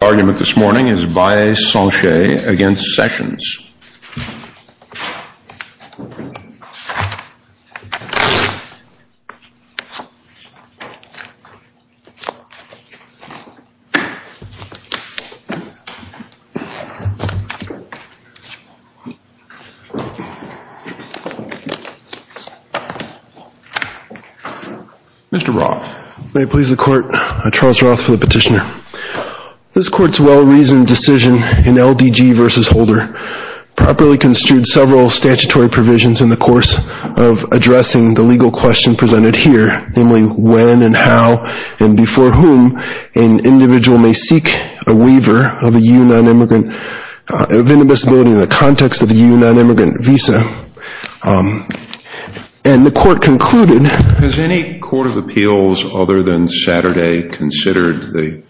The argument this morning is Baez-Sanchez v. Sessions. Mr. Roth. May it please the court, I'm Charles Roth for the petitioner. This court's well-reasoned decision in LDG v. Holder properly construed several statutory provisions in the course of addressing the legal question presented here, namely when and how and before whom an individual may seek a waiver of a U.N. non-immigrant, of indivisibility in the context of a U.N. non-immigrant visa. And the court concluded... Has any court of appeals other than Saturday considered the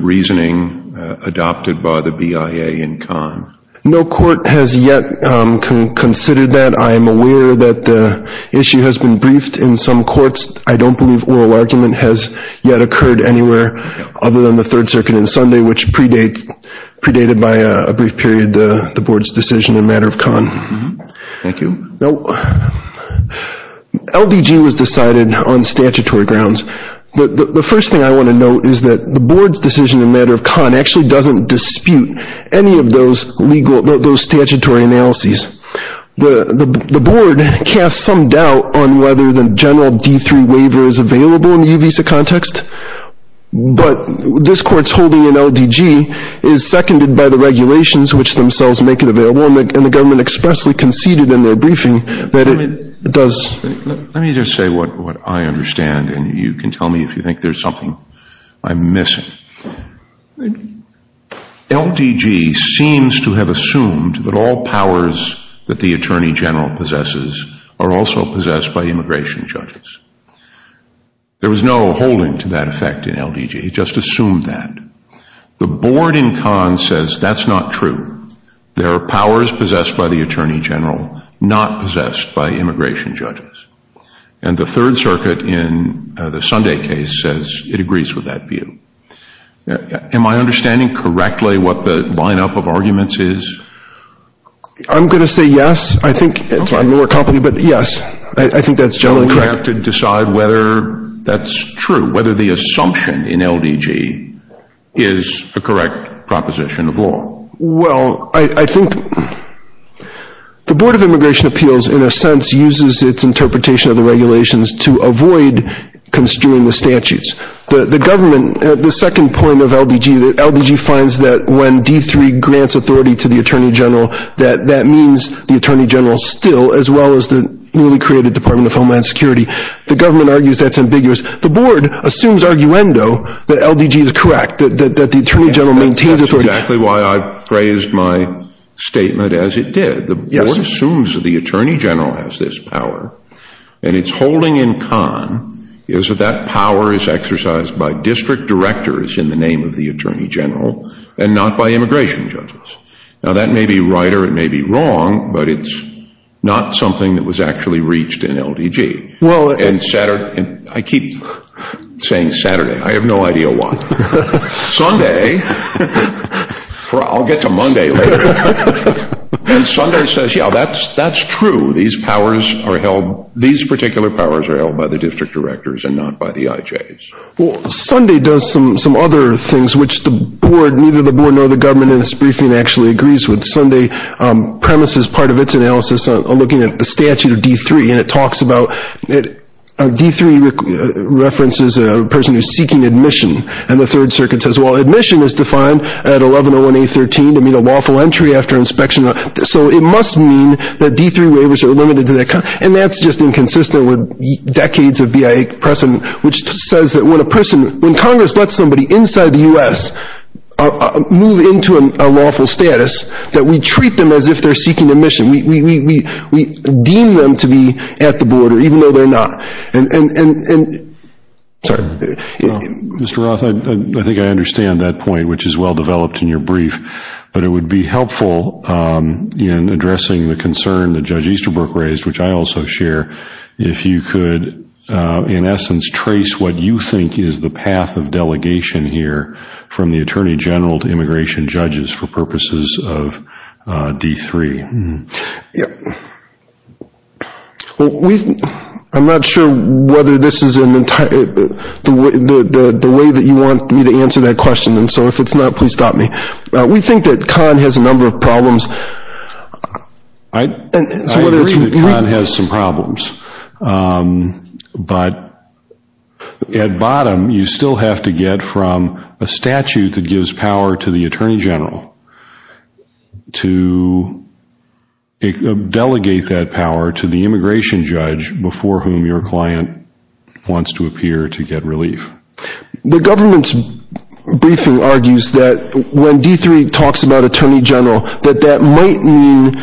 reasoning adopted by the BIA in Cannes? No court has yet considered that. I am aware that the issue has been briefed in some courts. I don't believe oral argument has yet occurred anywhere other than the Third Circuit on Sunday, which predated by a brief period the Board's decision in a matter of Cannes. Thank you. LDG was decided on statutory grounds. The first thing I want to note is that the Board's decision in a matter of Cannes actually doesn't dispute any of those statutory analyses. The Board casts some doubt on whether the general D-3 waiver is available in the U-Visa context, but this court's holding in LDG is seconded by the regulations, which themselves make it available, and the government expressly conceded in their briefing that it does... Let me just say what I understand, and you can tell me if you think there's something I'm missing. LDG seems to have assumed that all powers that the Attorney General possesses are also possessed by immigration judges. There was no holding to that effect in LDG. He just assumed that. The Board in Cannes says that's not true. There are powers possessed by the Attorney General, not possessed by immigration judges. And the Third Circuit in the Sunday case says it agrees with that view. Am I understanding correctly what the line-up of arguments is? I'm going to say yes. I think... I'm more confident, but yes. I think that's generally correct. Do we have to decide whether that's true, whether the assumption in LDG is a correct proposition of law? Well, I think... The Board of Immigration Appeals, in a sense, uses its interpretation of the regulations to avoid construing the statutes. The government... The second point of LDG... LDG finds that when D3 grants authority to the Attorney General, that that means the Attorney General still, as well as the newly created Department of Homeland Security. The government argues that's ambiguous. The Board assumes arguendo that LDG is correct, that the Attorney General maintains authority. That's exactly why I phrased my statement as it did. The Board assumes that the Attorney General has this power and its holding in con is that that power is exercised by district directors in the name of the Attorney General and not by immigration judges. Now, that may be right or it may be wrong, but it's not something that was actually reached in LDG. And Saturday... I keep saying Saturday. I have no idea why. Sunday... I'll get to Monday later. And Sunday says, yeah, that's true. These powers are held... These particular powers are held by the district directors and not by the IJs. Well, Sunday does some other things which neither the Board nor the government in its briefing actually agrees with. Sunday premises part of its analysis looking at the statute of D3 and it talks about... D3 references a person who's seeking admission. And the Third Circuit says, well, admission is defined at 1101A13 to meet a lawful entry after inspection. So it must mean that D3 waivers are limited to that... And that's just inconsistent with decades of BIA precedent, which says that when a person... When Congress lets somebody inside the U.S. move into a lawful status, that we treat them as if they're seeking admission. We deem them to be at the border, even though they're not. And... Sorry. Mr. Roth, I think I understand that point, which is well-developed in your brief. But it would be helpful in addressing the concern that Judge Easterbrook raised, which I also share, if you could in essence trace what you think is the path of delegation here from the Attorney General to immigration judges for purposes of D3. Well, we... I'm not sure whether this is an entire... The way that you want me to answer that question, and so if it's not, please stop me. We think that Kahn has a number of problems. I agree that Kahn has some problems. But at bottom, you still have to get from a statute that gives power to the Attorney General to delegate that power to the immigration judge before whom your client wants to appear to get relief. The government's briefing argues that when D3 talks about Attorney General that that might mean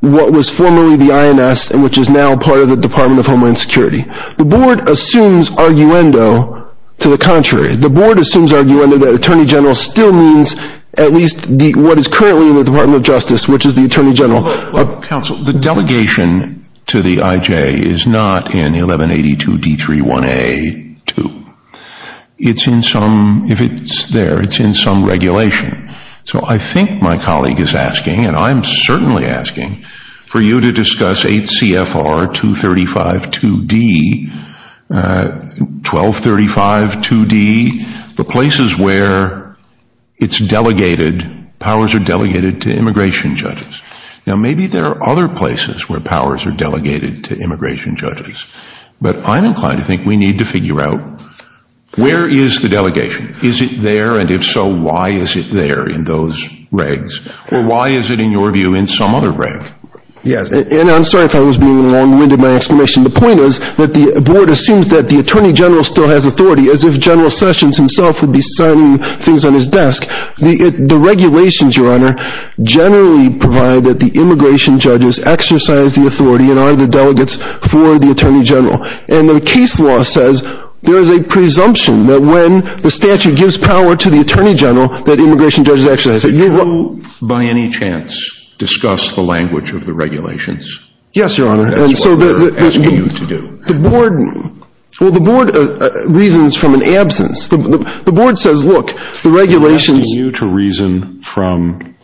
what was formerly the INS and which is now part of the Department of Homeland Security. The Board assumes arguendo to the contrary. The Board assumes arguendo that Attorney General still means at least what is currently in the Department of Justice, which is the Attorney General. Counsel, the delegation to the IJ is not in 1182 D3 1A 2. It's in some... If it's there, it's in some regulation. So I think my colleague is asking, and I'm certainly asking, for you to discuss 8 CFR 235 2D 1235 2D, the places where it's delegated, powers are delegated to immigration judges. Now maybe there are other places where powers are delegated to immigration judges. But I'm inclined to think we need to figure out where is the delegation? Is it there? And if so, why is it there in those regs? Or why is it, in your view, in some other reg? Yes, and I'm sorry if I was being long-winded in my explanation. The point is that the Board assumes that the Attorney General still has authority, as if General Sessions himself would be signing things on his desk. The regulations, Your Honor, generally provide that the immigration judges exercise the authority and are the delegates for the Attorney General. And the case law says there is a presumption that when the statute gives power to the Attorney General, that immigration judges exercise it. Did you, by any Your Honor, that's what we're asking you to do. Well, the Board reasons from an absence. The Board says, look, the regulations We're asking you to reason from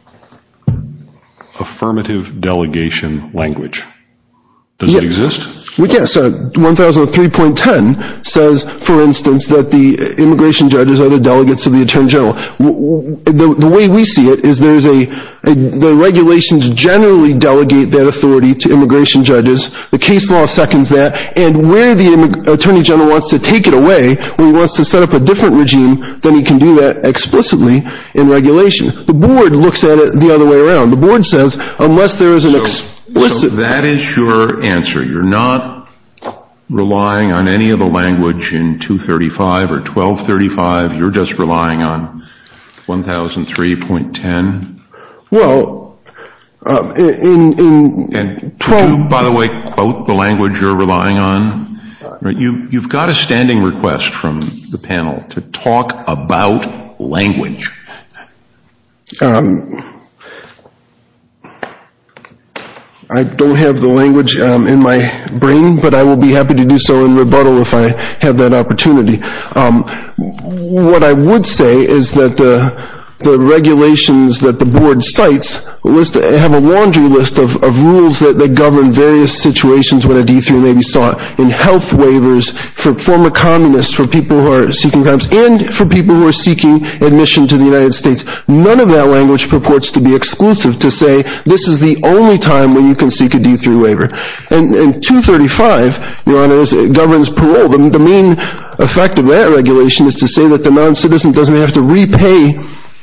affirmative delegation language. Does it exist? Yes. 1003.10 says, for instance, that the immigration judges are the delegates of the Attorney General. The way we see it is the regulations generally delegate that authority to immigration judges. The case law seconds that. And where the Attorney General wants to take it away, where he wants to set up a different regime, then he can do that explicitly in regulation. The Board looks at it the other way around. The Board says, unless there is an explicit So that is your answer. You're not relying on any of the language in 235 or 1235. You're just relying on 1003.10? Well, Do you, by the way, quote the language you're relying on? You've got a standing request from the panel to talk about language. I don't have the language in my brain, but I will be happy to do so in rebuttal if I have that opportunity. What I would say is that the regulations that the Board cites have a laundry list of rules that govern various situations where a D-3 may be sought in health waivers for former communists, for people who are seeking crimes, and for people who are seeking admission to the United States. None of that language purports to be exclusive to say this is the only time when you can seek a D-3 waiver. And 235, Your Honor, governs parole. The main effect of that regulation is to say that the non-citizen doesn't have to repay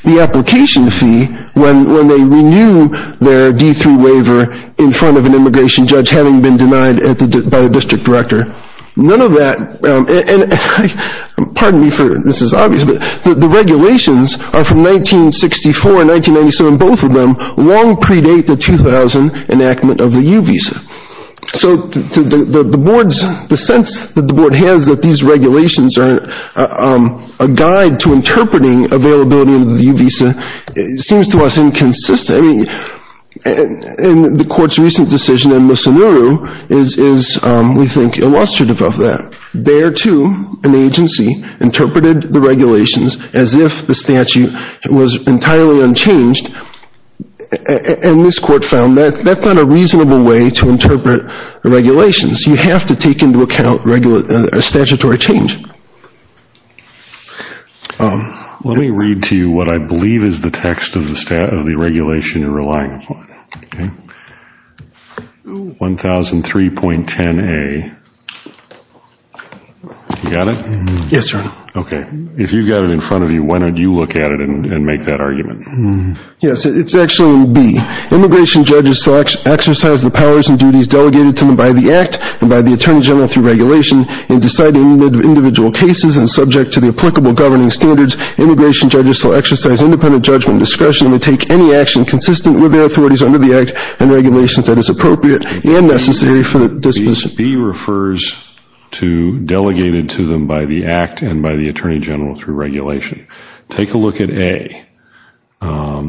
the application fee when they renew their D-3 waiver in front of an immigration judge having been denied by the district director. None of that pardon me, this is obvious, but the regulations are from 1964 and 1997, both of them long predate the 2000 enactment of the U visa. So the Board's the sense that the Board has that these regulations are a guide to interpreting availability of the U visa seems to us inconsistent. And the Court's recent decision in Musonuru is, we think, illustrative of that. There, too, an agency interpreted the regulations as if the statute was entirely unchanged and this Court found that that's not a reasonable way to interpret regulations. You have to take into account a statutory change. Let me read to you what I believe is the text of the regulation you're relying upon. 1003.10a You got it? Yes, Your Honor. Okay. If you've got it in front of you, why don't you look at it and make that argument? Yes, it's actually in B. Immigration judges exercise the powers and duties delegated to them by the Attorney General through regulation in deciding individual cases and subject to the applicable governing standards. Immigration judges shall exercise independent judgment and discretion to take any action consistent with their authorities under the Act and regulations that is appropriate and necessary for the disposition. B refers to delegated to them by the Act and by the Attorney General through regulation. Take a look at A,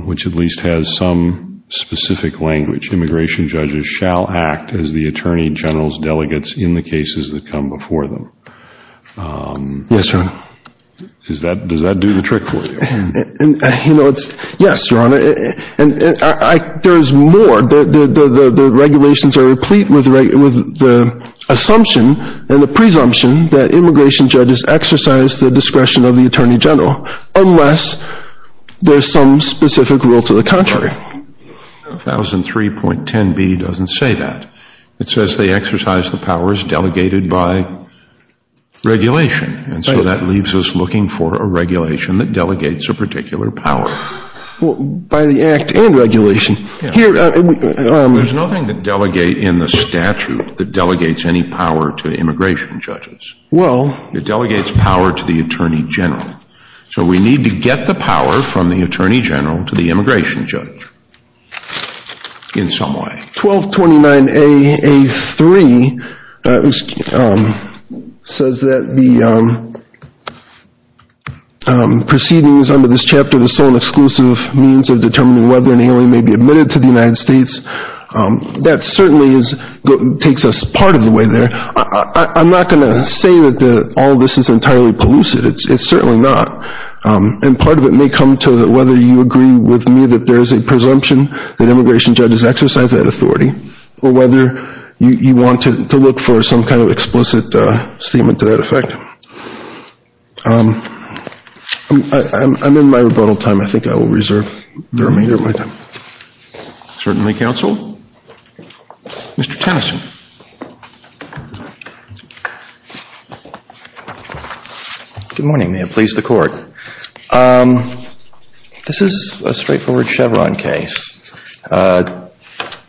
which at least has some specific language. Immigration judges shall act as the Attorney General's delegates in the cases that come before them. Yes, Your Honor. Does that do the trick for you? Yes, Your Honor. There's more. The regulations are replete with the assumption and the presumption that immigration judges exercise the discretion of the Attorney General unless there's some specific rule to the contrary. 1003.10B doesn't say that. It says they exercise the powers delegated by regulation. And so that leaves us looking for a regulation that delegates a particular power. By the Act and regulation. There's nothing to delegate in the statute that delegates any power to immigration judges. Well. It delegates power to the Attorney General. So we need to get the power from the Attorney General to the immigration judge in some way. 1229A.A.3 says that the proceedings under this chapter, the sole and exclusive means of determining whether an alien may be admitted to the United States, that certainly takes us part of the way there. I'm not going to say that all this is entirely pellucid. It's certainly not. And part of it may come to whether you agree with me that there's a presumption that immigration judges exercise that authority or whether you want to look for some kind of explicit statement to that effect. I'm in my rebuttal time. I think I will reserve the remainder of my time. Certainly, Counsel. Mr. Tennyson. Good morning. May it please the Court. This is a straightforward Chevron case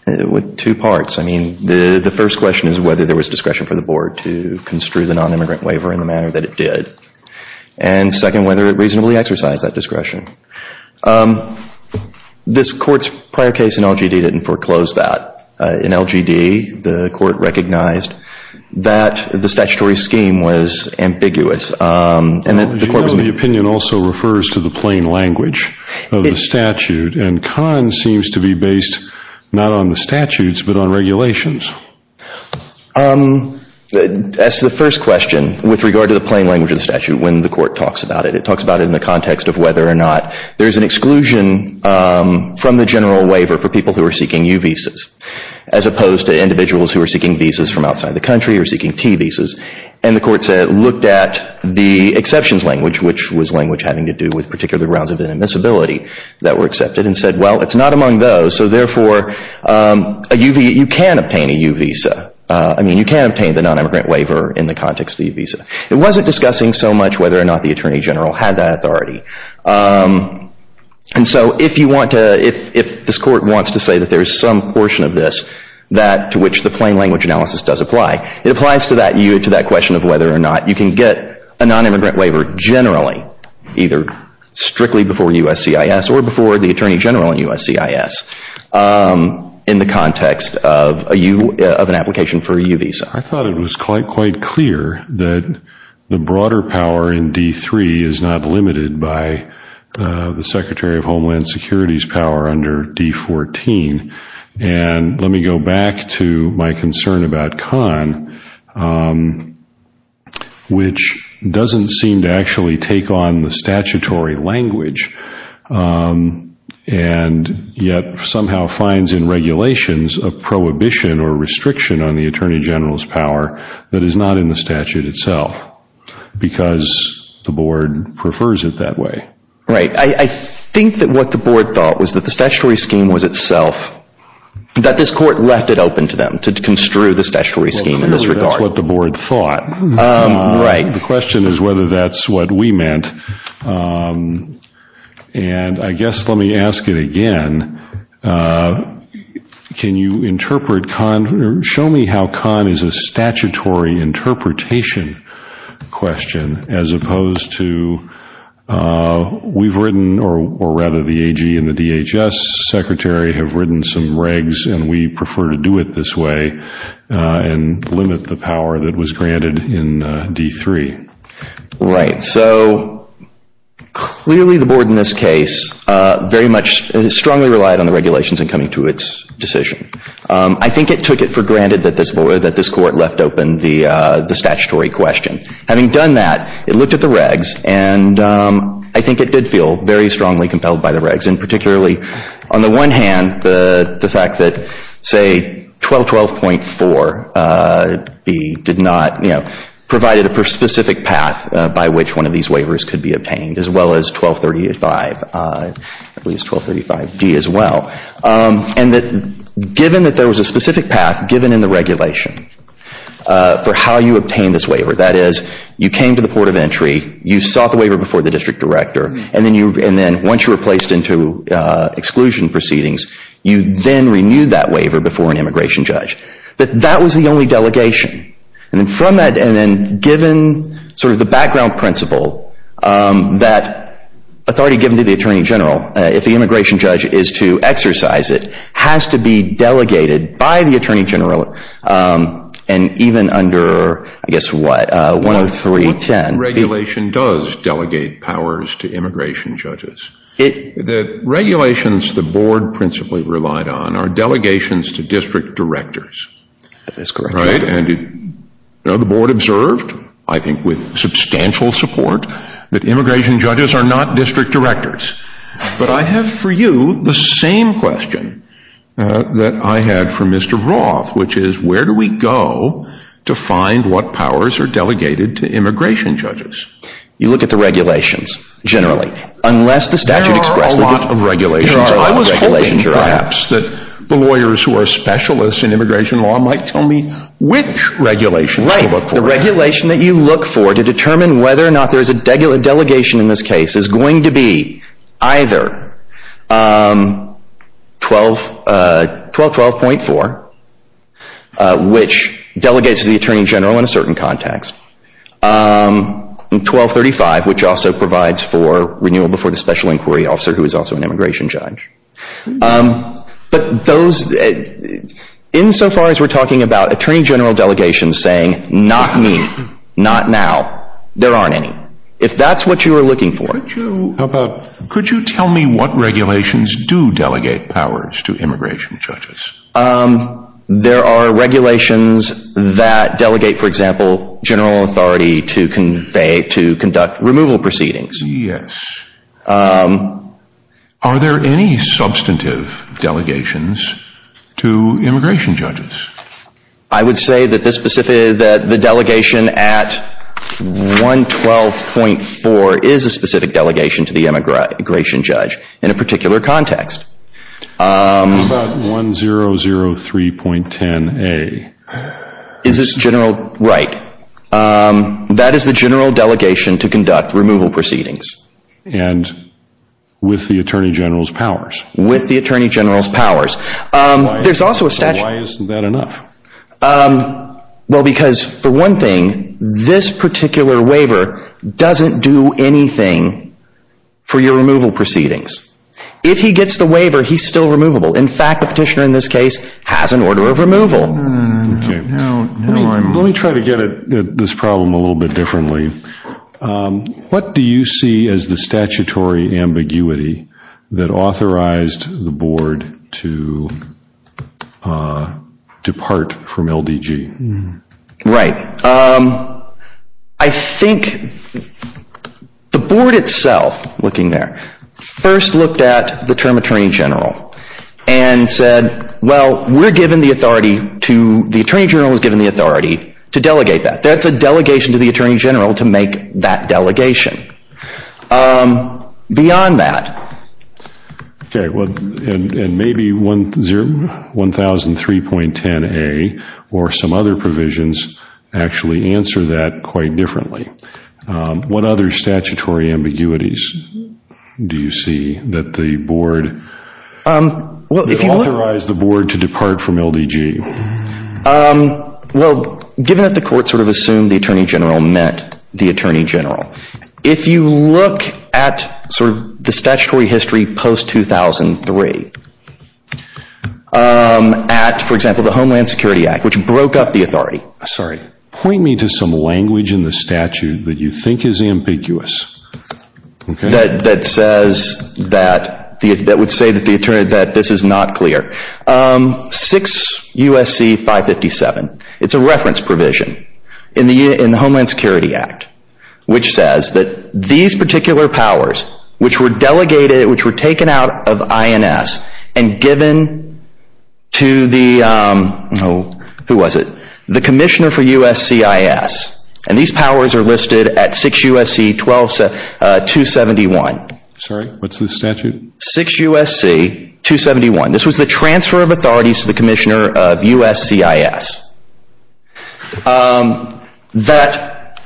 with two parts. I mean, the first question is whether there was discretion for the Board to construe the nonimmigrant waiver in the manner that it did. And second, whether it reasonably exercised that discretion. This Court's prior case in which the Court recognized that the statutory scheme was ambiguous. The opinion also refers to the plain language of the statute, and Kahn seems to be based not on the statutes but on regulations. As to the first question, with regard to the plain language of the statute when the Court talks about it, it talks about it in the context of whether or not there's an exclusion from the general waiver for people who are seeking U visas as opposed to individuals who are seeking visas from outside the country or seeking T visas. And the Court said, looked at the exceptions language which was language having to do with particular grounds of inadmissibility that were accepted and said, well, it's not among those, so therefore, you can obtain a U visa. I mean, you can obtain the nonimmigrant waiver in the context of the U visa. It wasn't discussing so much whether or not the Attorney General had that authority. And so if you want to, if this Court wants to say that there is some portion of this that to which the plain language analysis does apply, it applies to that question of whether or not you can get a nonimmigrant waiver generally, either strictly before USCIS or before the Attorney General in USCIS in the context of an application for a U visa. I thought it was quite clear that the broader power in D3 is not limited by the Secretary of Homeland Security's power under D14. And let me go back to my concern about Kahn, which doesn't seem to actually take on the statutory language and yet somehow finds in regulations a prohibition or restriction on the Attorney General's power that is not in the statute itself because the Board prefers it that way. Right. I think that what the Board thought was that the statutory scheme was itself, that this Court left it open to them to construe the statutory scheme in this regard. Well, that's what the Board thought. Right. The question is whether that's what we meant. And I guess let me ask it again. Can you interpret Kahn, show me how Kahn is a statutory interpretation question as opposed to we've written, or rather the AG and the DHS Secretary have written some regs and we prefer to do it this way and limit the power that was granted in D3. Right. So clearly the Board in this case very much strongly relied on the regulations in coming to its decision. I think it took it for granted that this Court left open the statutory question. Having done that, it looked at the regs and I think it did feel very strongly compelled by the regs and particularly on the one hand the fact that say 1212.4 B did not, you know, provided a specific path by which one of these waivers could be obtained as well as 1235 D as well. And that given that there was a specific path given in the regulation for how you obtain this waiver. That is, you came to the Port of Entry, you sought the waiver before the District Director, and then once you were placed into exclusion proceedings, you then renewed that waiver before an Immigration Judge. That was the only delegation. And then from that and then given sort of the background principle that authority given to the Attorney General, if the Immigration Judge is to exercise it, has to be delegated by the Attorney General and even under, I guess what, 10310. What regulation does delegate powers to Immigration Judges? The regulations the Board principally relied on are delegations to District Directors. That is correct. And the Board observed, I think with substantial support, that Immigration Judges are not District Directors. But I have for you the same question that I had for Mr. Roth, which is, where do we go to find what powers are delegated to Immigration Judges? You look at the regulations, generally. Unless the statute expresses... There are a lot of regulations. I was hoping, perhaps, that the lawyers who are specialists in Immigration Law might tell me which regulations to look for. Right. The regulation that you look for to determine whether or not there is a delegation in this case is going to be either 1212.4, which delegates to the Attorney General in a certain context, and 1235, which also provides for renewal before the Special Inquiry Officer, who is also an Immigration Judge. But those... Insofar as we're talking about Attorney General delegations saying, not me, not now, there aren't any. If that's what you were looking for... Could you tell me what regulations do delegate powers to Immigration Judges? There are regulations that delegate, for example, general authority to conduct removal proceedings. Yes. Are there any substantive delegations to Immigration Judges? I would say that the delegation at 1212.4 is a specific delegation to the Immigration Judge in a particular context. What about 1003.10a? Is this general... Right. That is the general delegation to conduct removal proceedings. And with the Attorney General's powers? With the Attorney General's powers. Why isn't that enough? Well, because for one thing, this particular waiver doesn't do anything for your removal proceedings. If he gets the waiver, he's still removable. In fact, the petitioner in this case has an order of removal. Let me try to get at this problem a little bit differently. What do you see as the statutory ambiguity that authorized the Board to depart from LDG? Right. I think the Board itself, looking there, first looked at the term Attorney General and said, well, we're given the authority to... the Attorney General is given the authority to delegate that. That's a delegation to the Attorney General to make that delegation. Beyond that... Okay, well, and maybe 1003.10a or some other provisions actually answer that quite differently. What other statutory ambiguities do you see that the Board... that authorized the Board to depart from LDG? Well, given that the Court sort of assumed the Attorney General met the Attorney General, if you look at sort of the statutory history post 2003, at, for example, the Homeland Security Act, which broke up the authority. Sorry, point me to some language in the statute that you think is ambiguous. That says that... that would say that the Attorney that this is not clear. 6 U.S.C. 557. It's a reference provision in the Homeland Security Act, which says that these particular powers, which were delegated, which were taken out of INS and given to the... who was it? The Commissioner for USCIS. And these powers are listed at 6 U.S.C. 271. Sorry, what's the statute? 6 U.S.C. 271. This was the transfer of authorities to the Commissioner of USCIS. That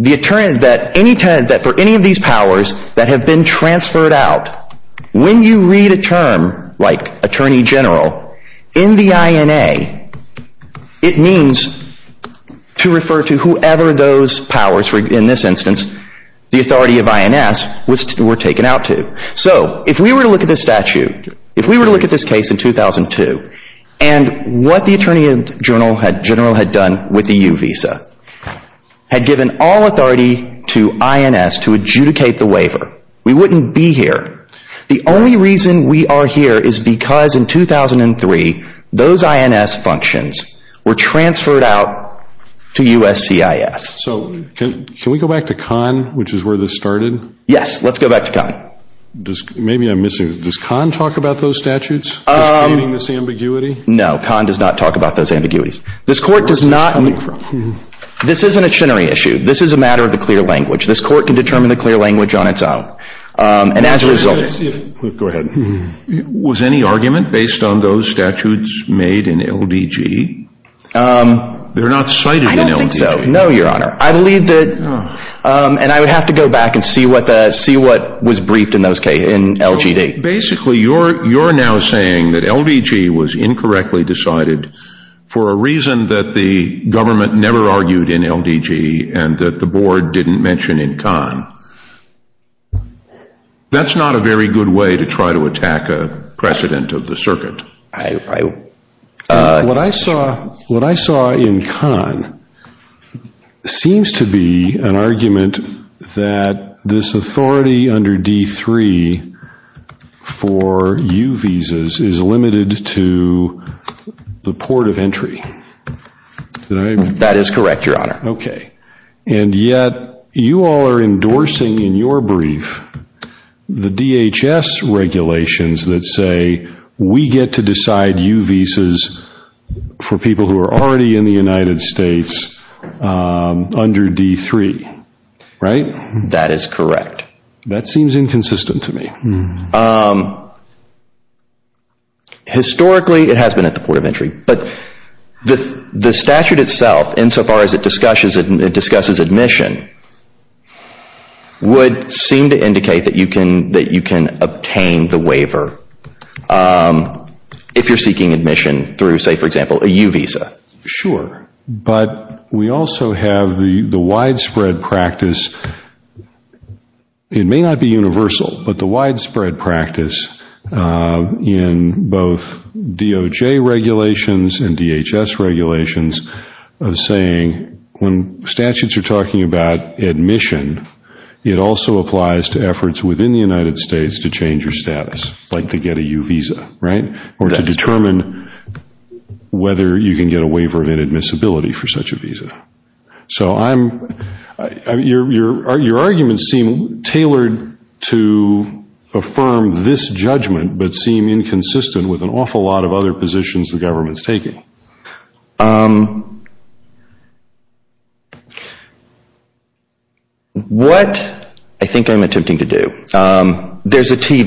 the Attorney... that for any of these powers that have been transferred out, when you read a term like Attorney General, in the INA, it means to refer to whoever those powers were, in this instance, the authority of INS were taken out to. So, if we were to look at this statute, if we were to look at this case in 2002, and what the Attorney General had done with the U visa, had given all authority to INS to adjudicate the waiver, we wouldn't be here. The only reason we are here is because in 2003, those INS functions were transferred out to USCIS. So, can we go back to Kahn, which is where this started? Yes, let's go back to Kahn. Maybe I'm missing... does Kahn talk about those statutes? No, Kahn does not talk about those ambiguities. This Court does not... this isn't a Chenery issue. This is a matter of the clear language. This Court can determine the clear language on its own. Go ahead. Was any argument based on those statutes made in LDG? They're not cited in LDG. I don't think so. No, Your Honor. I believe that... and I would have to go back and see what was briefed in those cases, in LDG. Basically, you're now saying that LDG was incorrectly decided for a reason that the government never argued in LDG and that the Board didn't mention in Kahn. That's not a very good way to try to attack a precedent of the circuit. What I saw in Kahn seems to be an argument that this authority under D3 for U visas is limited to the port of entry. That is correct, Your Honor. And yet, you all are endorsing in your brief the DHS regulations that say we get to decide U visas for people who are already in the United States under D3. Right? That is correct. That seems inconsistent to me. Historically, it has been at the port of entry, but the statute itself insofar as it discusses admission would seem to indicate that you can obtain the waiver if you're seeking admission through say, for example, a U visa. Sure, but we also have the widespread practice it may not be universal, but the widespread practice in both DOJ regulations and DHS regulations of saying when statutes are talking about admission, it also applies to efforts within the United States to change your status. Like to get a U visa, right? Or to determine whether you can get a waiver of inadmissibility for such a visa. Your arguments seem tailored to affirm this judgment, but seem inconsistent with an awful lot of other positions the government is taking. What I think I'm attempting to do there is a T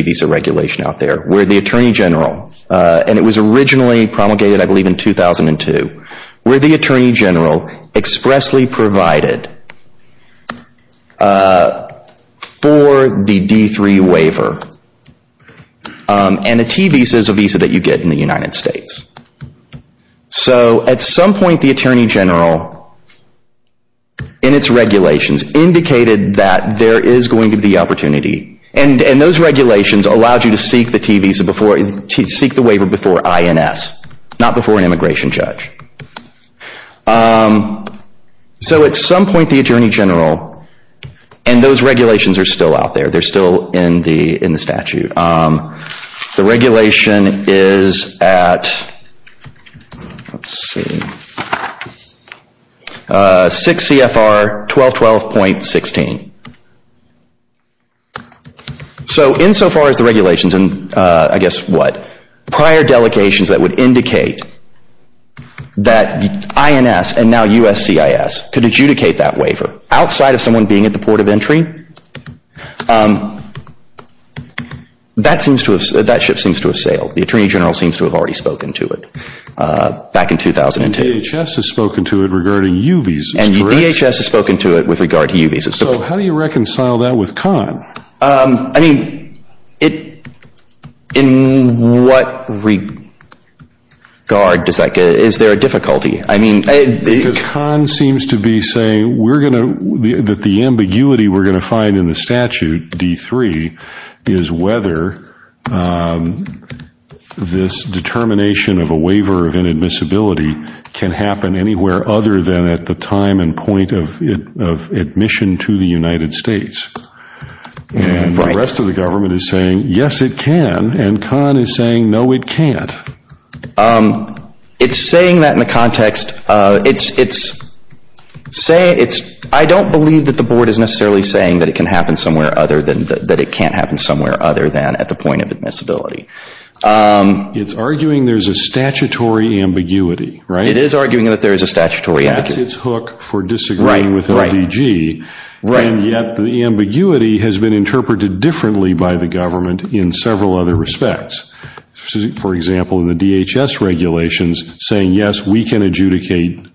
visa regulation out there where the Attorney General, and it was originally promulgated I believe in 2002, where the Attorney General expressly provided for the D3 waiver, and a T visa is a visa that you get in the United States. So at some point the Attorney General in its regulations indicated that there is going to be opportunity, and those regulations allowed you to seek the waiver before INS, not before an immigration judge. So at some point the Attorney General and those regulations are still out there, they're still in the statute. The regulation is at let's see 6 CFR 1212.16. So in so far as the regulations and I guess what, prior delegations that would indicate that INS and now USCIS could adjudicate that waiver outside of someone being at the port of entry, that ship seems to have sailed. The Attorney General seems to have already spoken to it back in 2010. And DHS has spoken to it regarding U visas, correct? And DHS has spoken to it with I mean it in what regard does that, is there a difficulty? Because Kahn seems to be saying that the ambiguity we're going to find in the statute, D3, is whether this determination of a waiver of inadmissibility can happen anywhere other than at the time and point of admission to the board. And the rest of the government is saying yes it can and Kahn is saying no it can't. It's saying that in the context, it's I don't believe that the board is necessarily saying that it can happen somewhere other than that it can't happen somewhere other than at the point of admissibility. It's arguing there's a statutory ambiguity, right? It is arguing that there is a statutory ambiguity. That's its hook for disagreeing with LDG. And yet the ambiguity has been interpreted differently by the government in several other respects. For example, in the DHS regulations saying yes we can adjudicate,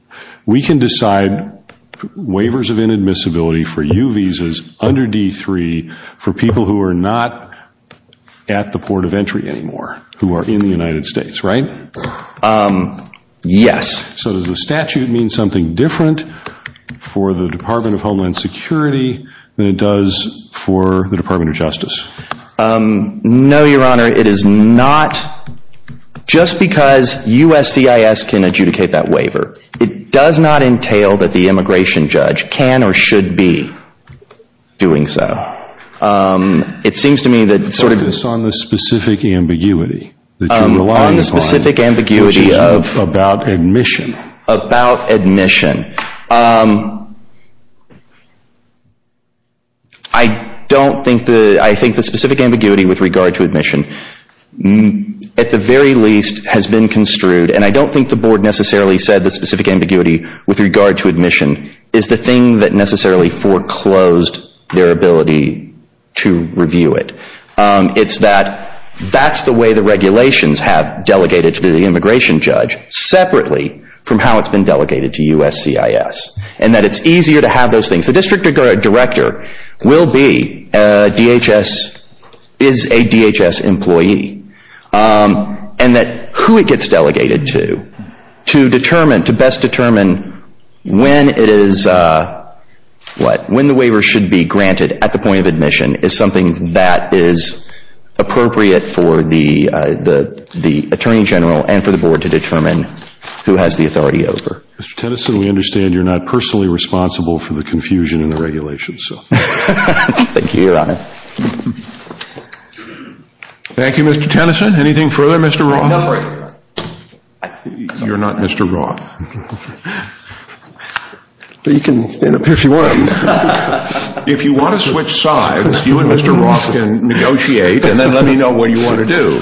we can decide waivers of inadmissibility for U visas under D3 for people who are not at the port of entry anymore, who are in the United States, right? Yes. So does the statute mean something different for the Department of Homeland Security than it does for the Department of Justice? No, Your Honor. It is not. Just because USCIS can adjudicate that waiver, it does not entail that the immigration judge can or should be doing so. It seems to me that... Focus on the specific ambiguity that you're relying upon, which is about admission. I don't think the... I think the specific ambiguity with regard to admission at the very least has been construed, and I don't think the Board necessarily said the specific ambiguity with regard to admission is the thing that necessarily foreclosed their ability to review it. It's that that's the way the regulations have delegated to the immigration judge separately from how it's been delegated to USCIS, and that it's easier to have those things. The district director will be, DHS is a DHS employee, and that who it gets delegated to, to determine, to best determine when it is, what, when the waiver should be granted at the point of admission is something that is appropriate for the Attorney General and for the Board to determine who has the authority over. Mr. Tennyson, we understand you're not personally responsible for the confusion in the regulations. Thank you, Your Honor. Thank you, Mr. Tennyson. Anything further, Mr. Roth? You're not Mr. Roth. You can stand up if you want. If you want to switch sides, you and Mr. Roth can negotiate, and then let me know what you want to do.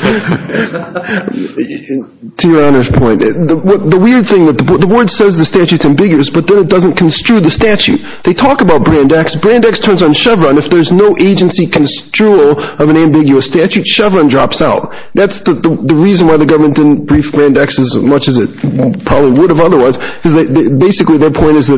To Your Honor's point, the weird thing, the Board says the statute's ambiguous, but then it doesn't construe the statute. They talk about Brand X. Brand X turns on Chevron. If there's no agency construal of an ambiguous statute, Chevron drops out. That's the reason why the government didn't brief Brand X as much as it probably would have otherwise, because basically their point is that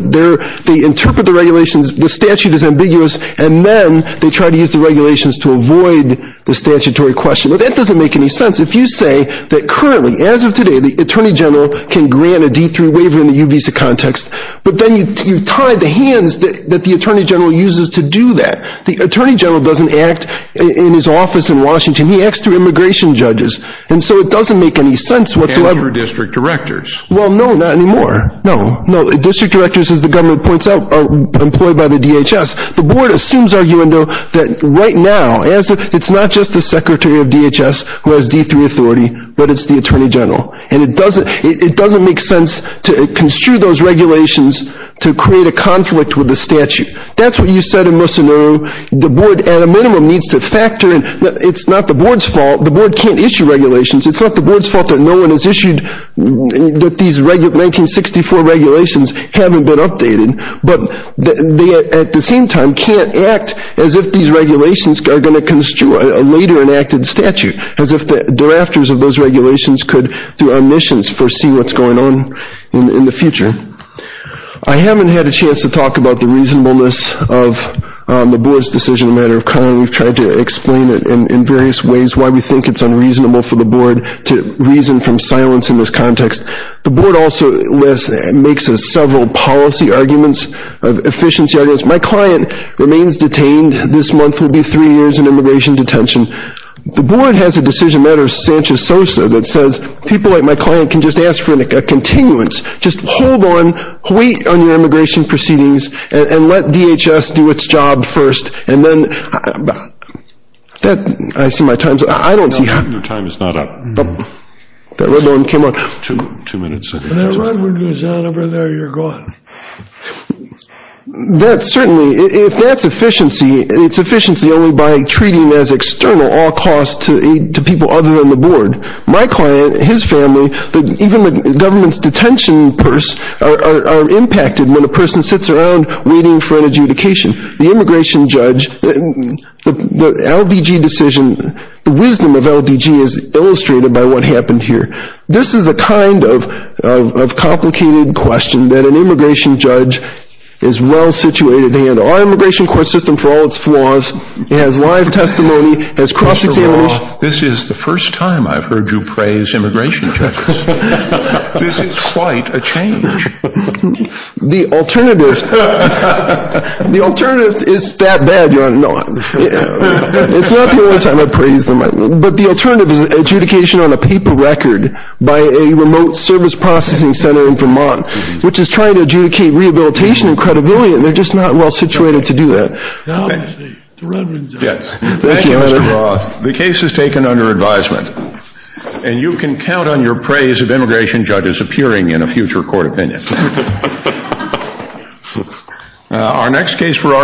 they interpret the regulations, the statute is ambiguous, and then they try to use the regulations to avoid the statutory question. But that doesn't make any sense. If you say that currently, as of today, the Attorney General can grant a D-3 waiver in the U-Visa context, but then you've tied the hands that the Attorney General uses to do that. The Attorney General doesn't act in his office in Washington. He acts through immigration judges, and so it doesn't make any sense whatsoever. And through district directors. Well, no, not anymore. No. District directors, as the government points out, are employed by the DHS. The Board assumes, under this argument, that right now, it's not just the Secretary of DHS who has D-3 authority, but it's the Attorney General. And it doesn't make sense to construe those regulations to create a conflict with the statute. That's what you said in Mocenaro. The Board, at a minimum, needs to factor in. It's not the Board's fault. The Board can't issue regulations. It's not the Board's fault that no one has issued, that these 1964 regulations haven't been updated, but they, at the same time, can't act as if these regulations are going to construe a later enacted statute. As if the drafters of those regulations could, through omissions, foresee what's going on in the future. I haven't had a chance to talk about the reasonableness of the Board's decision, a matter of kind. We've tried to explain it in various ways, why we think it's unreasonable for the Board to reason from silence in this context. The Board also makes several policy arguments, efficiency arguments. My client remains detained. This month will be three years in immigration detention. The Board has a decision matter of Sanchez-Sosa that says, people like my client can just ask for a continuance. Just hold on, wait on your immigration proceedings, and let DHS do its job first. And then I see my time's up. I don't see how... Your time is not up. That red one came on. Two minutes. When that red one goes on over there, you're gone. If that's efficiency, it's efficiency only by treating as external all costs to people other than the Board. My client, his family, even the government's detention purse are impacted when a person sits around waiting for an adjudication. The immigration judge, the LDG decision, the wisdom of LDG is illustrated by what happened here. This is the kind of complicated question that an immigration judge is well-situated to handle. Our immigration court system, for all its flaws, has live testimony, has cross-examination. This is the first time I've heard you praise immigration judges. This is quite a change. The alternative is that bad, Your Honor. It's not the only time I've praised them. But the alternative is adjudication on a paper record by a remote service processing center in Vermont, which is trying to adjudicate rehabilitation and credibility, and they're just not well-situated to do that. Thank you, Mr. Roth. The case is taken under advisement. And you can count on your praise of immigration judges appearing in a future court opinion.